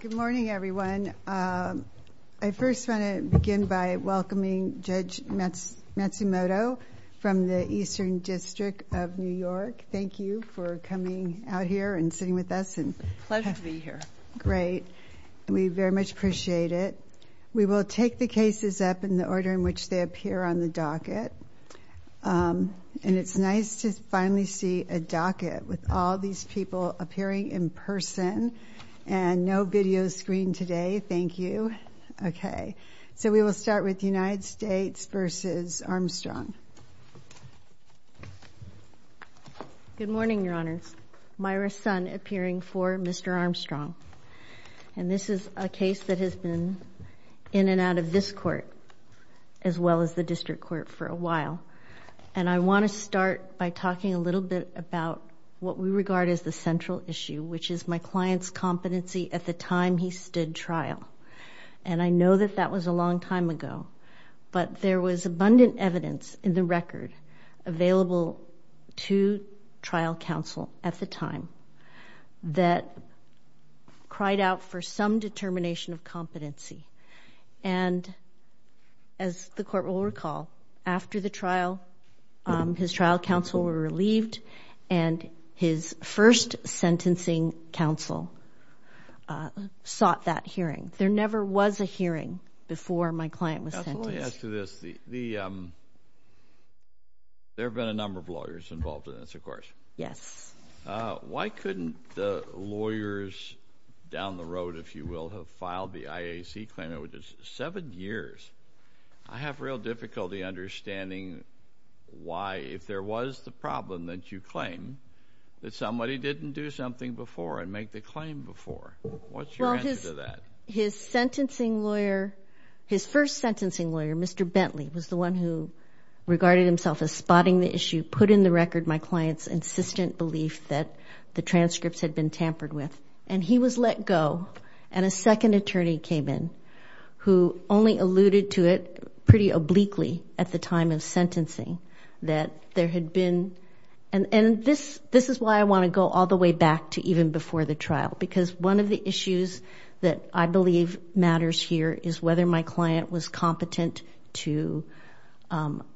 Good morning, everyone. I first want to begin by welcoming Judge Matsumoto from the Eastern District of New York. Thank you for coming out here and sitting with us. It's a pleasure to be here. Great. We very much appreciate it. We will take the cases up in the order in which they appear on the docket. And it's nice to finally see a docket with all these people appearing in person and no video screen today. Thank you. Okay. So we will start with the United States v. Armstrong. Good morning, Your Honors. Myra Sun appearing for Mr. Armstrong. And this is a case that has been in and out of this court as well as the district court for a while. And I want to start by talking a little bit about what we regard as the central issue, which is my client's competency at the time he stood trial. And I know that that was a long time ago, but there was abundant evidence in the record available to trial counsel at the time that cried out for some determination of competency. And as the court will recall, after the trial, his trial counsel were relieved and his first sentencing counsel sought that hearing. There never was a hearing before my client was sentenced. Absolutely as to this, there have been a number of lawyers involved in this, of course. Yes. Why couldn't the lawyers down the road, if you will, have filed the IAC claim? It was seven years. I have real difficulty understanding why if there was the problem that you claim that somebody didn't do something before and make the claim before. What's your answer to that? His sentencing lawyer, his first sentencing lawyer, Mr. Bentley, was the one who regarded himself as spotting the issue, put in the record my client's insistent belief that the transcripts had been tampered with. And he was let go. And a second attorney came in who only alluded to it pretty obliquely at the time of sentencing that there had been, and this is why I want to go all the way back to even before the trial. Because one of the issues that I believe matters here is whether my client was competent to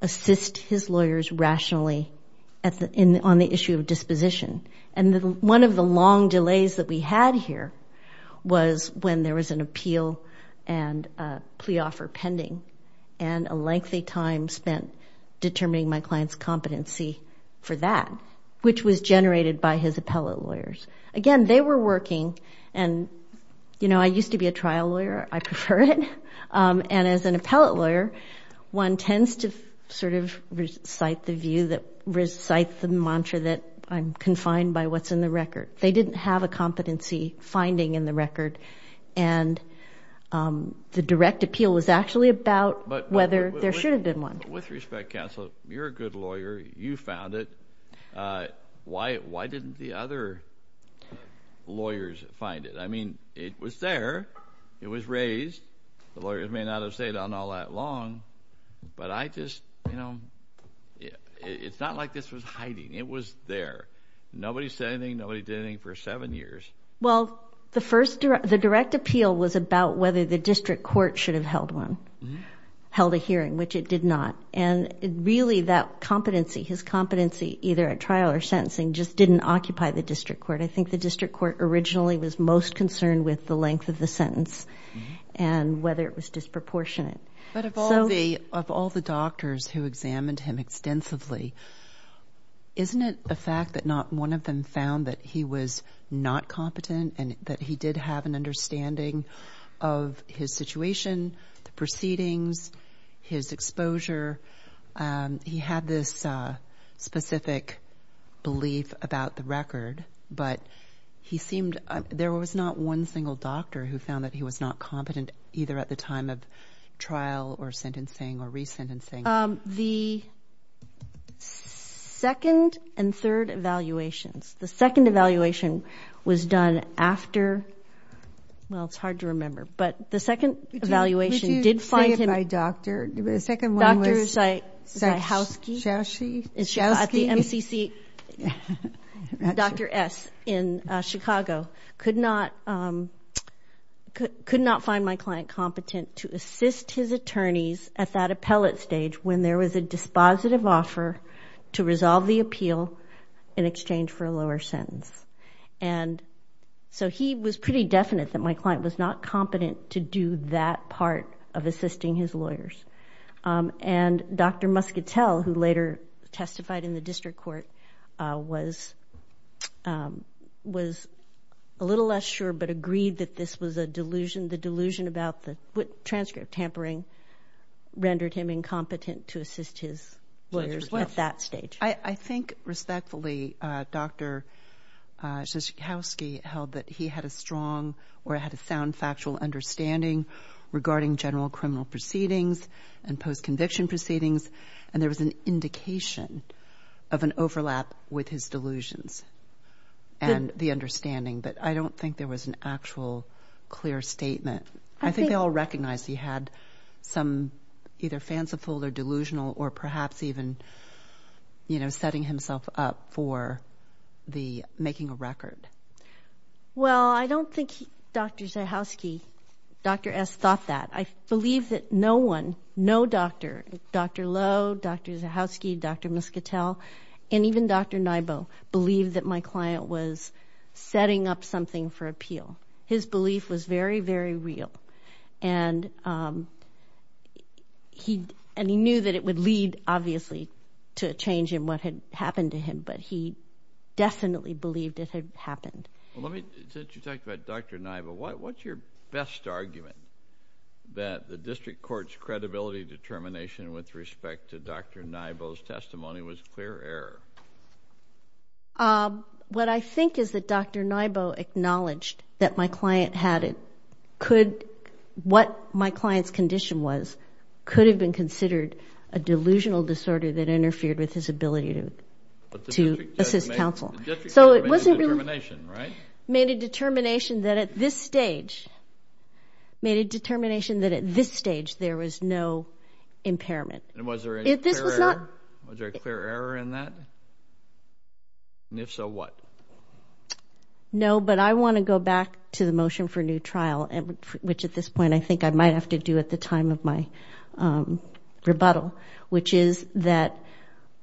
assist his lawyers rationally on the issue of disposition. And one of the long delays that we had here was when there was an appeal and plea offer pending. And a lengthy time spent determining my client's competency for that, which was generated by his appellate lawyers. Again, they were working and, you know, I used to be a trial lawyer. I prefer it. And as an appellate lawyer, one tends to sort of recite the view that recite the mantra that I'm confined by what's in the record. They didn't have a competency finding in the record. And the direct appeal was actually about whether there should have been one. With respect, counsel, you're a good lawyer. You found it. Why didn't the other lawyers find it? I mean, it was there. It was raised. The lawyers may not have stayed on all that long. But I just, you know, it's not like this was hiding. It was there. Nobody said anything. Nobody did anything for seven years. Well, the first, the direct appeal was about whether the district court should have held one, held a hearing, which it did not. And really that competency, his competency, either at trial or sentencing, just didn't occupy the district court. I think the district court originally was most concerned with the length of the sentence and whether it was disproportionate. But of all the doctors who examined him extensively, isn't it a fact that one of them found that he was not competent and that he did have an understanding of his situation, the proceedings, his exposure? He had this specific belief about the record, but he seemed, there was not one single doctor who found that he was not competent either at the time of trial or sentencing or re-sentencing. The second and third evaluations, the second evaluation was done after, well, it's hard to remember, but the second evaluation did find him, the second one was at the MCC, Dr. S. in Chicago, could not find my client competent to assist his attorneys at that appellate stage when there was a dispositive offer to resolve the appeal in exchange for a lower sentence. And so he was pretty definite that my client was not competent to do that part of assisting his lawyers. And Dr. Muscatel, who later testified in the district court, was a little less sure, but agreed that this was a delusion. The delusion about the transcript tampering rendered him incompetent to assist his lawyers at that stage. I think respectfully, Dr. Schakowsky held that he had a strong or had a sound factual understanding regarding general criminal proceedings and post conviction proceedings. And there was an indication of an overlap with his delusions and the understanding, but I don't think there was an actual clear statement. I think they all recognized he had some either fanciful or delusional or perhaps even, you know, setting himself up for the making a record. Well, I don't think Dr. Schakowsky, Dr. S. thought that. I believe that no one, no doctor, Dr. Lowe, Dr. Schakowsky, Dr. Muscatel, and even Dr. Nybo, believed that my client was setting up something for appeal. His belief was very, very real. And he knew that it would lead, obviously, to a change in what had happened to him, but he definitely believed it had happened. Well, let me, since you talked about Dr. Nybo, what's your best argument that the district court's credibility determination with respect to Dr. Nybo's testimony was clear error? What I think is that Dr. Nybo acknowledged that my client had it, could, what my client's condition was, could have been considered a delusional disorder that interfered with his ability to assist counsel. But the district court made a determination, right? Made a determination that at this stage, made a determination that at this stage, there was no impairment. And was there a clear error in that? And if so, what? No, but I want to go back to the motion for new trial, which at this point, I think I might have to do at the time of my rebuttal, which is that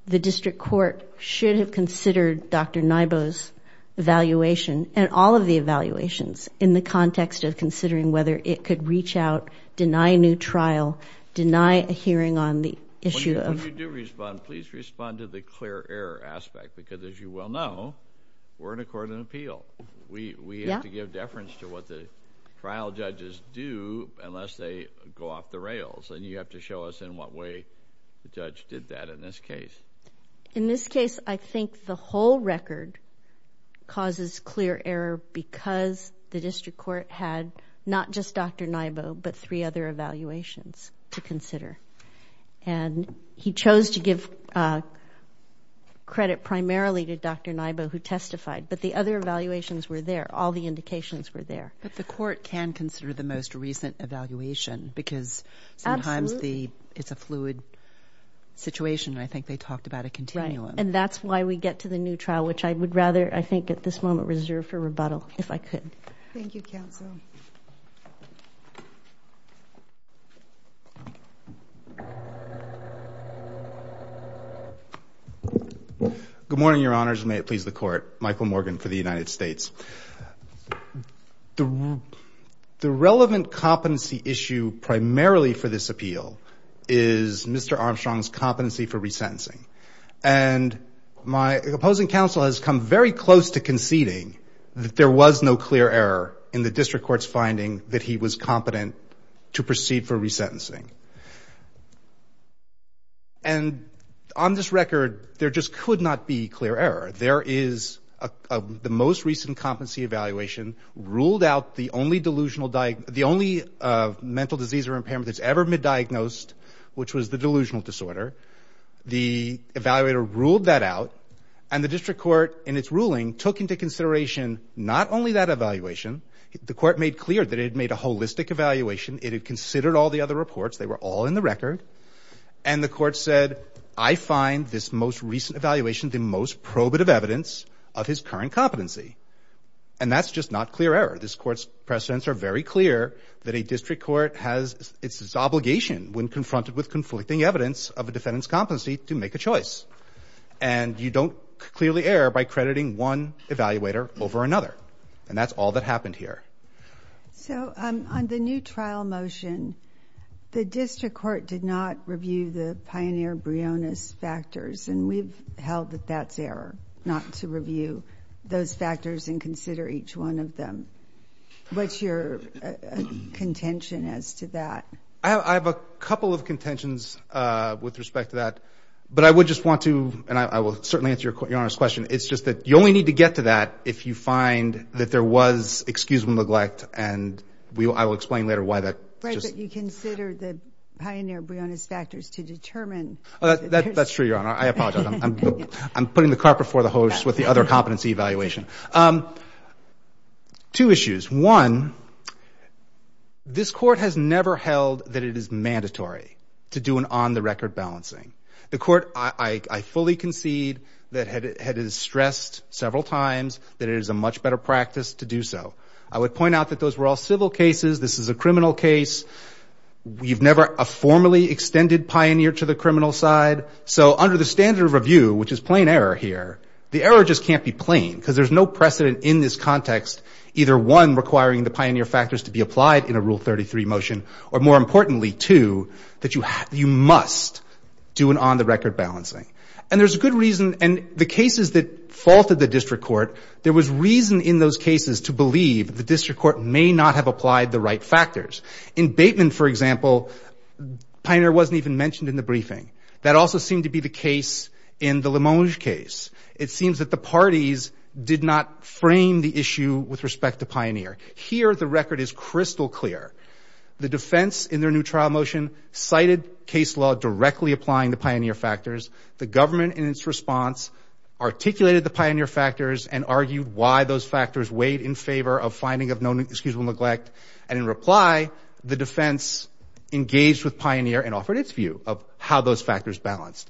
the district court should have considered Dr. Nybo's evaluation, and all of the evaluations, in the context of considering whether it could reach out, deny new trial, deny a hearing on the issue of... When you do respond, please respond to the clear error aspect, because as you well know, we're in a court of appeal. We have to give deference to what the trial judges do, unless they go off the rails. And you have to show us in what way the judge did that in this case. In this case, I think the whole record causes clear error because the district court had not just Dr. Nybo, but three other evaluations to consider. And he chose to give credit primarily to Dr. Nybo, who testified, but the other evaluations were there. All the indications were there. But the court can consider the most recent evaluation, because sometimes it's a fluid situation, and I think they talked about a continuum. And that's why we get to the new trial, which I would rather, I think, at this moment, reserve for rebuttal, if I could. Thank you, counsel. Good morning, your honors. May it please the court. Michael Morgan for the United States. The relevant competency issue primarily for this appeal is Mr. Armstrong's competency for resentencing. And my opposing counsel has come very close to conceding that there was no clear error in the district court's finding that he was competent to proceed for resentencing. And on this record, there just could not be clear error. There is the most recent competency evaluation ruled out the only mental disease or impairment that's ever been diagnosed, which was the delusional disorder. The evaluator ruled that out, and the district court, in its ruling, took into consideration not only that evaluation. The court made clear that it had made a holistic evaluation. It had considered all the other reports. They were all in the record. And the court said, I find this most recent evaluation the most probative evidence of his current competency. And that's just not clear error. This court's precedents are very clear that a district court has its obligation when confronted with conflicting evidence of a defendant's competency to make a choice. And you don't clearly err by crediting one evaluator over another. And that's all that happened here. So on the new trial motion, the district court did not review the pioneer Brionis factors. And we've held that that's error, not to review those factors and consider each one of them. What's your contention as to that? I have a couple of contentions with respect to that. But I would just want to, and I will certainly answer Your Honor's question, it's just that you only need to get to that if you find that there was excusable neglect. And I will explain later why that. Right, but you considered the pioneer Brionis factors to determine. That's true, Your Honor. I apologize. I'm putting the cart before the horse with the other competency evaluation. Two issues. One, this court has never held that it is mandatory to do an on-the-record balancing. The court, I fully concede that it has stressed several times that it is a much better practice to do so. I would point out that those were all civil cases. This is a criminal case. We've never formally extended pioneer to the criminal side. So under the standard of review, which is plain error here, the error just can't be plain. Because there's no precedent in this context, either one, requiring the pioneer factors to be applied in a Rule 33 motion, or more importantly, two, that you must do an on-the-record balancing. And there's a good reason. And the cases that faulted the district court, there was reason in those cases to believe the district court may not have applied the right factors. In Bateman, for example, pioneer wasn't even mentioned in the briefing. That also seemed to be the case in the Limonge case. It seems that the parties did not frame the issue with respect to pioneer. Here, the record is crystal clear. The defense, in their new trial motion, cited case law directly applying the pioneer factors. The government, in its response, articulated the pioneer factors and argued why those factors weighed in favor of finding of no excusable neglect. And in reply, the defense engaged with pioneer and offered its view of how those factors balanced.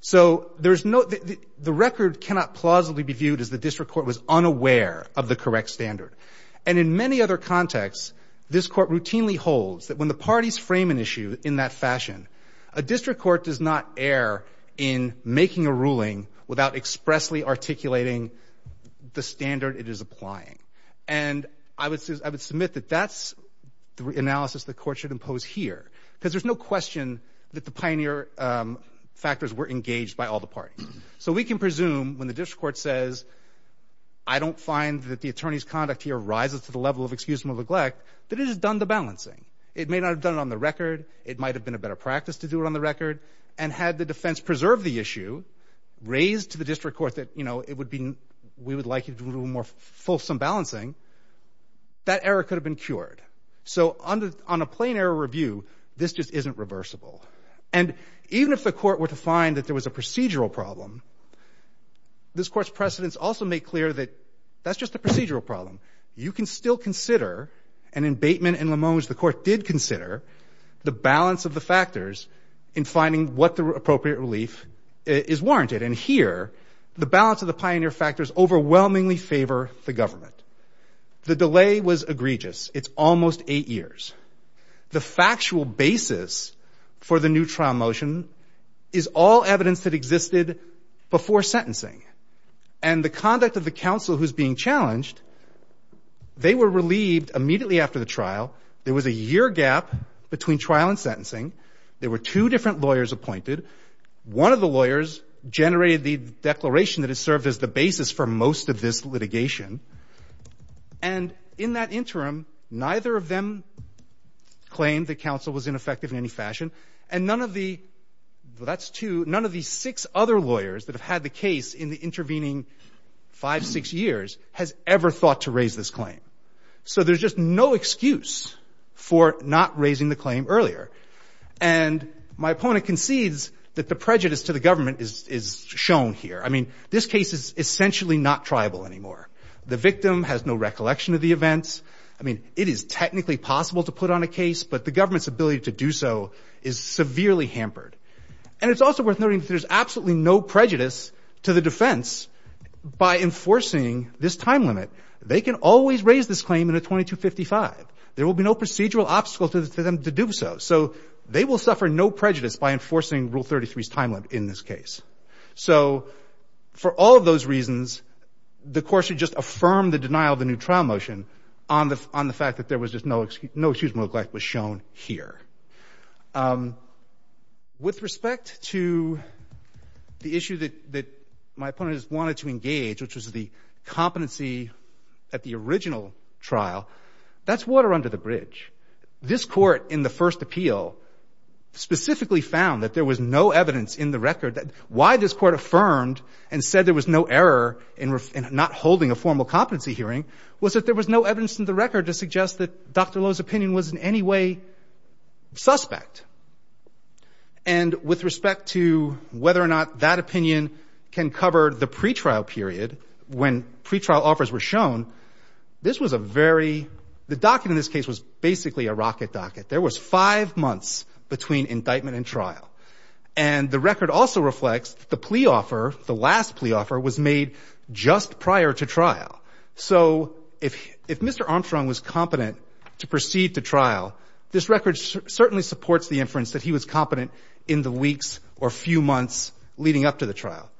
So the record cannot plausibly be viewed as the district court was unaware of the correct standard. And in many other contexts, this court routinely holds that when the parties frame an issue in that fashion, a district court does not err in making a ruling without expressly articulating the standard it is applying. And I would submit that that's the analysis the court should impose here, because there's no question that the pioneer factors were engaged by all the parties. So we can presume, when the district court says, I don't find that the attorney's conduct here rises to the level of excusable neglect, that it has done the balancing. It may not have done it on the record. It might have been a better practice to do it on the record. And had the defense preserved the issue, raised to the district court that, you know, it would be, we would like you to do a little more fulsome balancing, that error could have been cured. So on a plain error review, this just isn't reversible. And even if the court were to find that there was a procedural problem, this court's precedents also make clear that that's just a procedural problem. You can still consider an abatement in Limoges, the court did consider, the balance of the factors in finding what the appropriate relief is warranted. And here, the balance of the pioneer factors overwhelmingly favor the government. The delay was egregious. It's almost eight years. The factual basis for the new trial motion is all evidence that existed before sentencing. And the conduct of the counsel who's being challenged, they were relieved immediately after the trial. There was a year gap between trial and sentencing. There were two different lawyers appointed. One of the lawyers generated the declaration that it served as the basis for most of this litigation. And in that interim, neither of them claimed the counsel was ineffective in any fashion. And none of the, that's two, none of the six other lawyers that have had the case in the intervening five, six years has ever thought to raise this claim. So there's just no excuse for not raising the claim earlier. And my opponent concedes that the prejudice to the government is shown here. I mean, this case is essentially not triable anymore. The victim has no recollection of the events. I mean, it is technically possible to put on a case, but the government's ability to do so is severely hampered. And it's also worth noting that there's absolutely no prejudice to the defense by enforcing this time limit. They can always raise this claim in a 2255. There will be no procedural obstacle to them to do so. So they will suffer no prejudice by enforcing Rule 33's time limit in this case. So for all of those reasons, the court should just affirm the denial of the new trial motion on the, on the fact that there was just no excuse, no excuse for neglect was shown here. With respect to the issue that, that my opponent has wanted to engage, which was the competency at the original trial, that's water under the bridge. This court in the first appeal specifically found that there was no evidence in the record that why this court affirmed and said there was no error in not holding a formal competency hearing was that there was no evidence in the record to suggest that Dr. Lowe's opinion was in any way suspect. And with respect to whether or not that opinion can cover the pretrial period when pretrial offers were shown, this was a very, the docket in this case was basically a rocket docket. There was five months between indictment and trial. And the record also reflects the plea offer, the last plea offer was made just prior to trial. So if, if Mr. Armstrong was competent to proceed to trial, this record certainly supports the inference that he was competent in the weeks or few months leading up to the trial.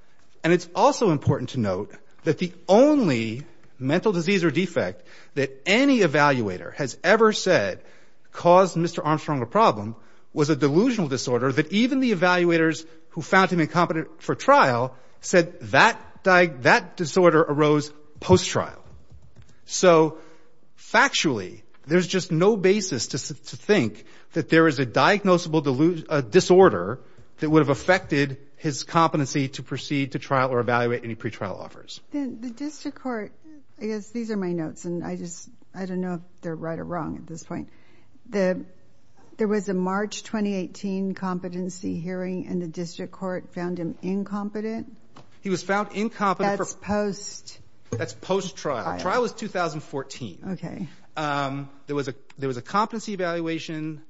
And it's also important to note that the only mental disease or defect that any evaluator has ever said caused Mr. Armstrong a problem was a delusional disorder that even the evaluators who found him incompetent for trial said that, that disorder arose post-trial. So factually, there's just no basis to think that there is a diagnosable disorder that would have affected his competency to proceed to trial or evaluate any pretrial offers. The district court, I guess these are my notes, and I just, I don't know if they're right or wrong at this point. The, there was a March 2018 competency hearing and the district court found him incompetent. He was found incompetent for post, that's post-trial. Trial was 2014. Okay. There was a, there was a competency evaluation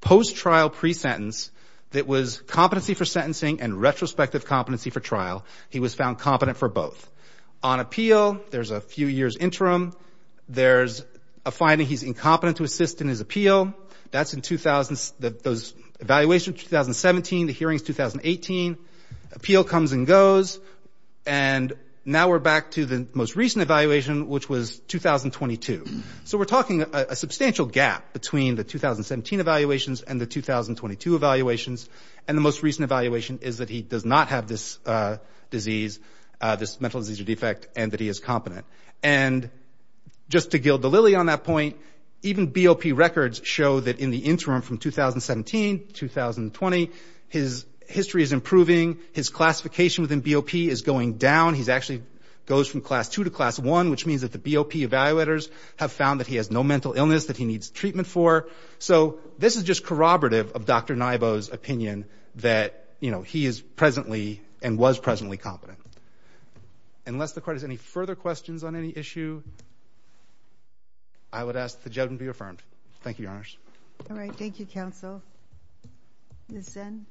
post-trial pre-sentence that was competency for sentencing and retrospective competency for trial. He was found competent for both. On appeal, there's a few years interim. There's a finding he's incompetent to assist in his appeal. That's in 2000, those evaluations, 2017, the hearings, 2018. Appeal comes and goes. And now we're back to the most recent evaluation, which was 2022. So we're talking a substantial gap between the 2017 evaluations and the 2022 evaluations. And the most recent evaluation is that he does not have this disease, this mental disease or defect, and that he is competent. And just to gild the lily on that point, even BOP records show that in the interim from 2017, 2020, his history is improving. His classification within BOP is going down. He's actually goes from class two to class one, which means that the BOP evaluators have found that he has no mental illness that he needs treatment for. So this is just corroborative of Dr. Naibo's opinion that, you know, he is presently and was presently competent. Unless the court has any further questions on any issue, I would ask the judgment to be affirmed. Thank you, Your Honors. All right. Thank you, counsel. Ms. Zinn.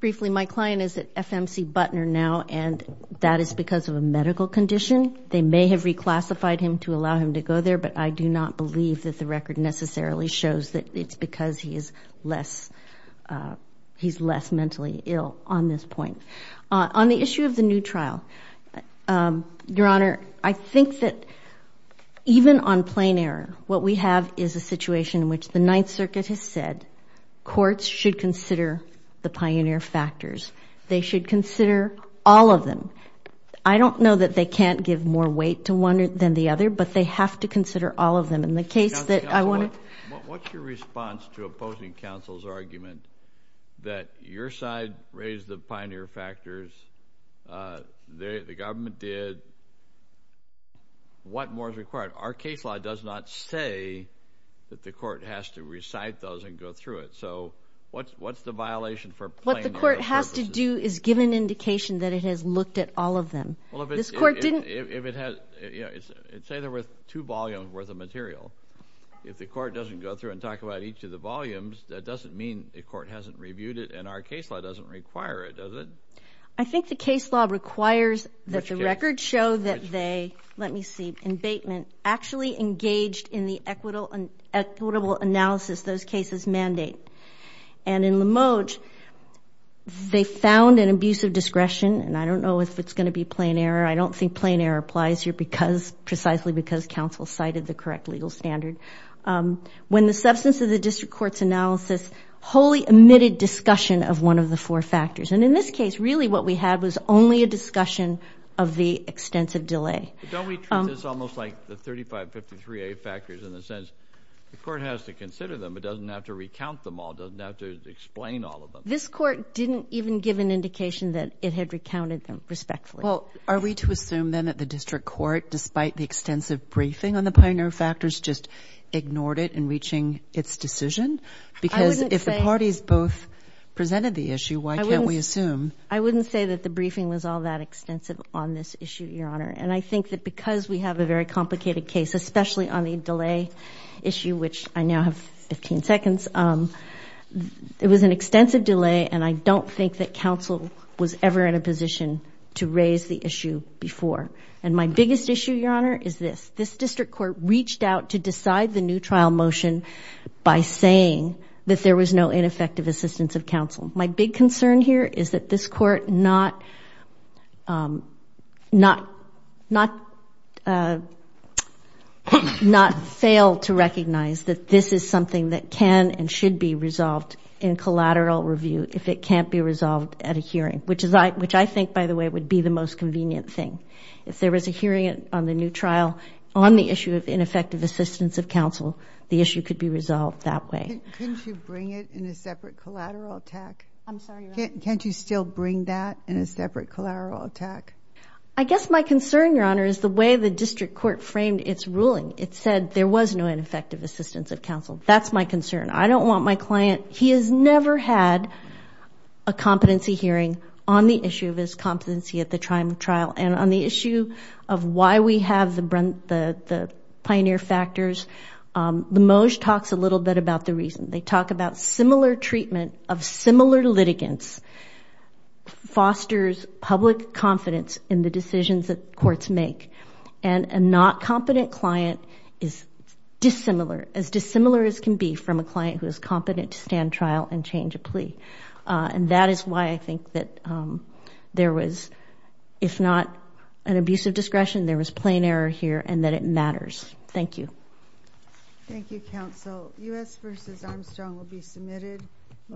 Briefly, my client is at FMC Butner now, and that is because of a medical condition. They may have reclassified him to allow him to go there, but I do not believe that the record necessarily shows that it's because he is less, he's less mentally ill on this point. On the issue of the new trial, Your Honor, I think that even on plain error, what we have is a situation in which the Ninth Circuit has said courts should consider the pioneer factors. They should consider all of them. I don't know that they can't give more weight to one than the other, but they have to consider all of them. And the case that I want to... What's your response to opposing counsel's argument that your side raised the pioneer factors, the government did, what more is required? Our case law does not say that the court has to recite those and go through it. So what's the violation for plain error purposes? What the court has to do is give an indication that it has looked at all of them. Well, if it's... This court didn't... If it has, you know, say there were two volumes worth of material. If the court doesn't go through and talk about each of the volumes, that doesn't mean the court hasn't reviewed it, and our case law doesn't require it, does it? I think the case law requires that the records show that they, let me see, abatement, actually engaged in the equitable analysis those cases mandate. And in Limoge, they found an abuse of discretion, and I don't know if it's going to be plain error. I don't think plain error applies here because, precisely because counsel cited the correct legal standard. When the substance of the district court's analysis wholly omitted discussion of one of the four factors. And in this case, really what we had was only a discussion of the extensive delay. Don't we treat this almost like the 3553A factors in the sense the court has to consider them. It doesn't have to recount them all. It doesn't have to explain all of them. This court didn't even give an indication that it had recounted them respectfully. Well, are we to assume then that the district court, despite the extensive briefing on the pioneer factors, just ignored it in reaching its decision? Because if the parties both presented the issue, why can't we assume? I wouldn't say that the briefing was all that extensive on this issue, Your Honor. And I think that because we have a very complicated case, especially on the delay issue, which I now have 15 seconds, it was an extensive delay, and I don't think that counsel was ever in a position to raise the issue before. And my biggest issue, Your Honor, is this. This district court reached out to decide the new trial motion by saying that there was no ineffective assistance of counsel. My big concern here is that this court not failed to recognize that this is something that can and should be resolved in collateral review if it can't be resolved at a hearing, which I think, by the way, would be the most convenient thing. If there was a hearing on the new trial on the issue of ineffective assistance of counsel, the issue could be resolved that way. Couldn't you bring it in a separate collateral attack? I'm sorry, Your Honor. Can't you still bring that in a separate collateral attack? I guess my concern, Your Honor, is the way the district court framed its ruling. It said there was no ineffective assistance of counsel. That's my concern. I don't want my client, he has never had a competency hearing on the issue of his competency at the time of trial. And on the issue of why we have the pioneer factors, the MOJ talks a little bit about the reason. They talk about similar treatment of similar litigants fosters public confidence in the decisions that courts make. And a not competent client is dissimilar, as dissimilar as can be from a client who is competent to stand trial and change a plea. And that is why I think that there was, if not an abuse of discretion, there was plain error here and that it matters. Thank you. Thank you, counsel. U.S. v. Armstrong will be submitted.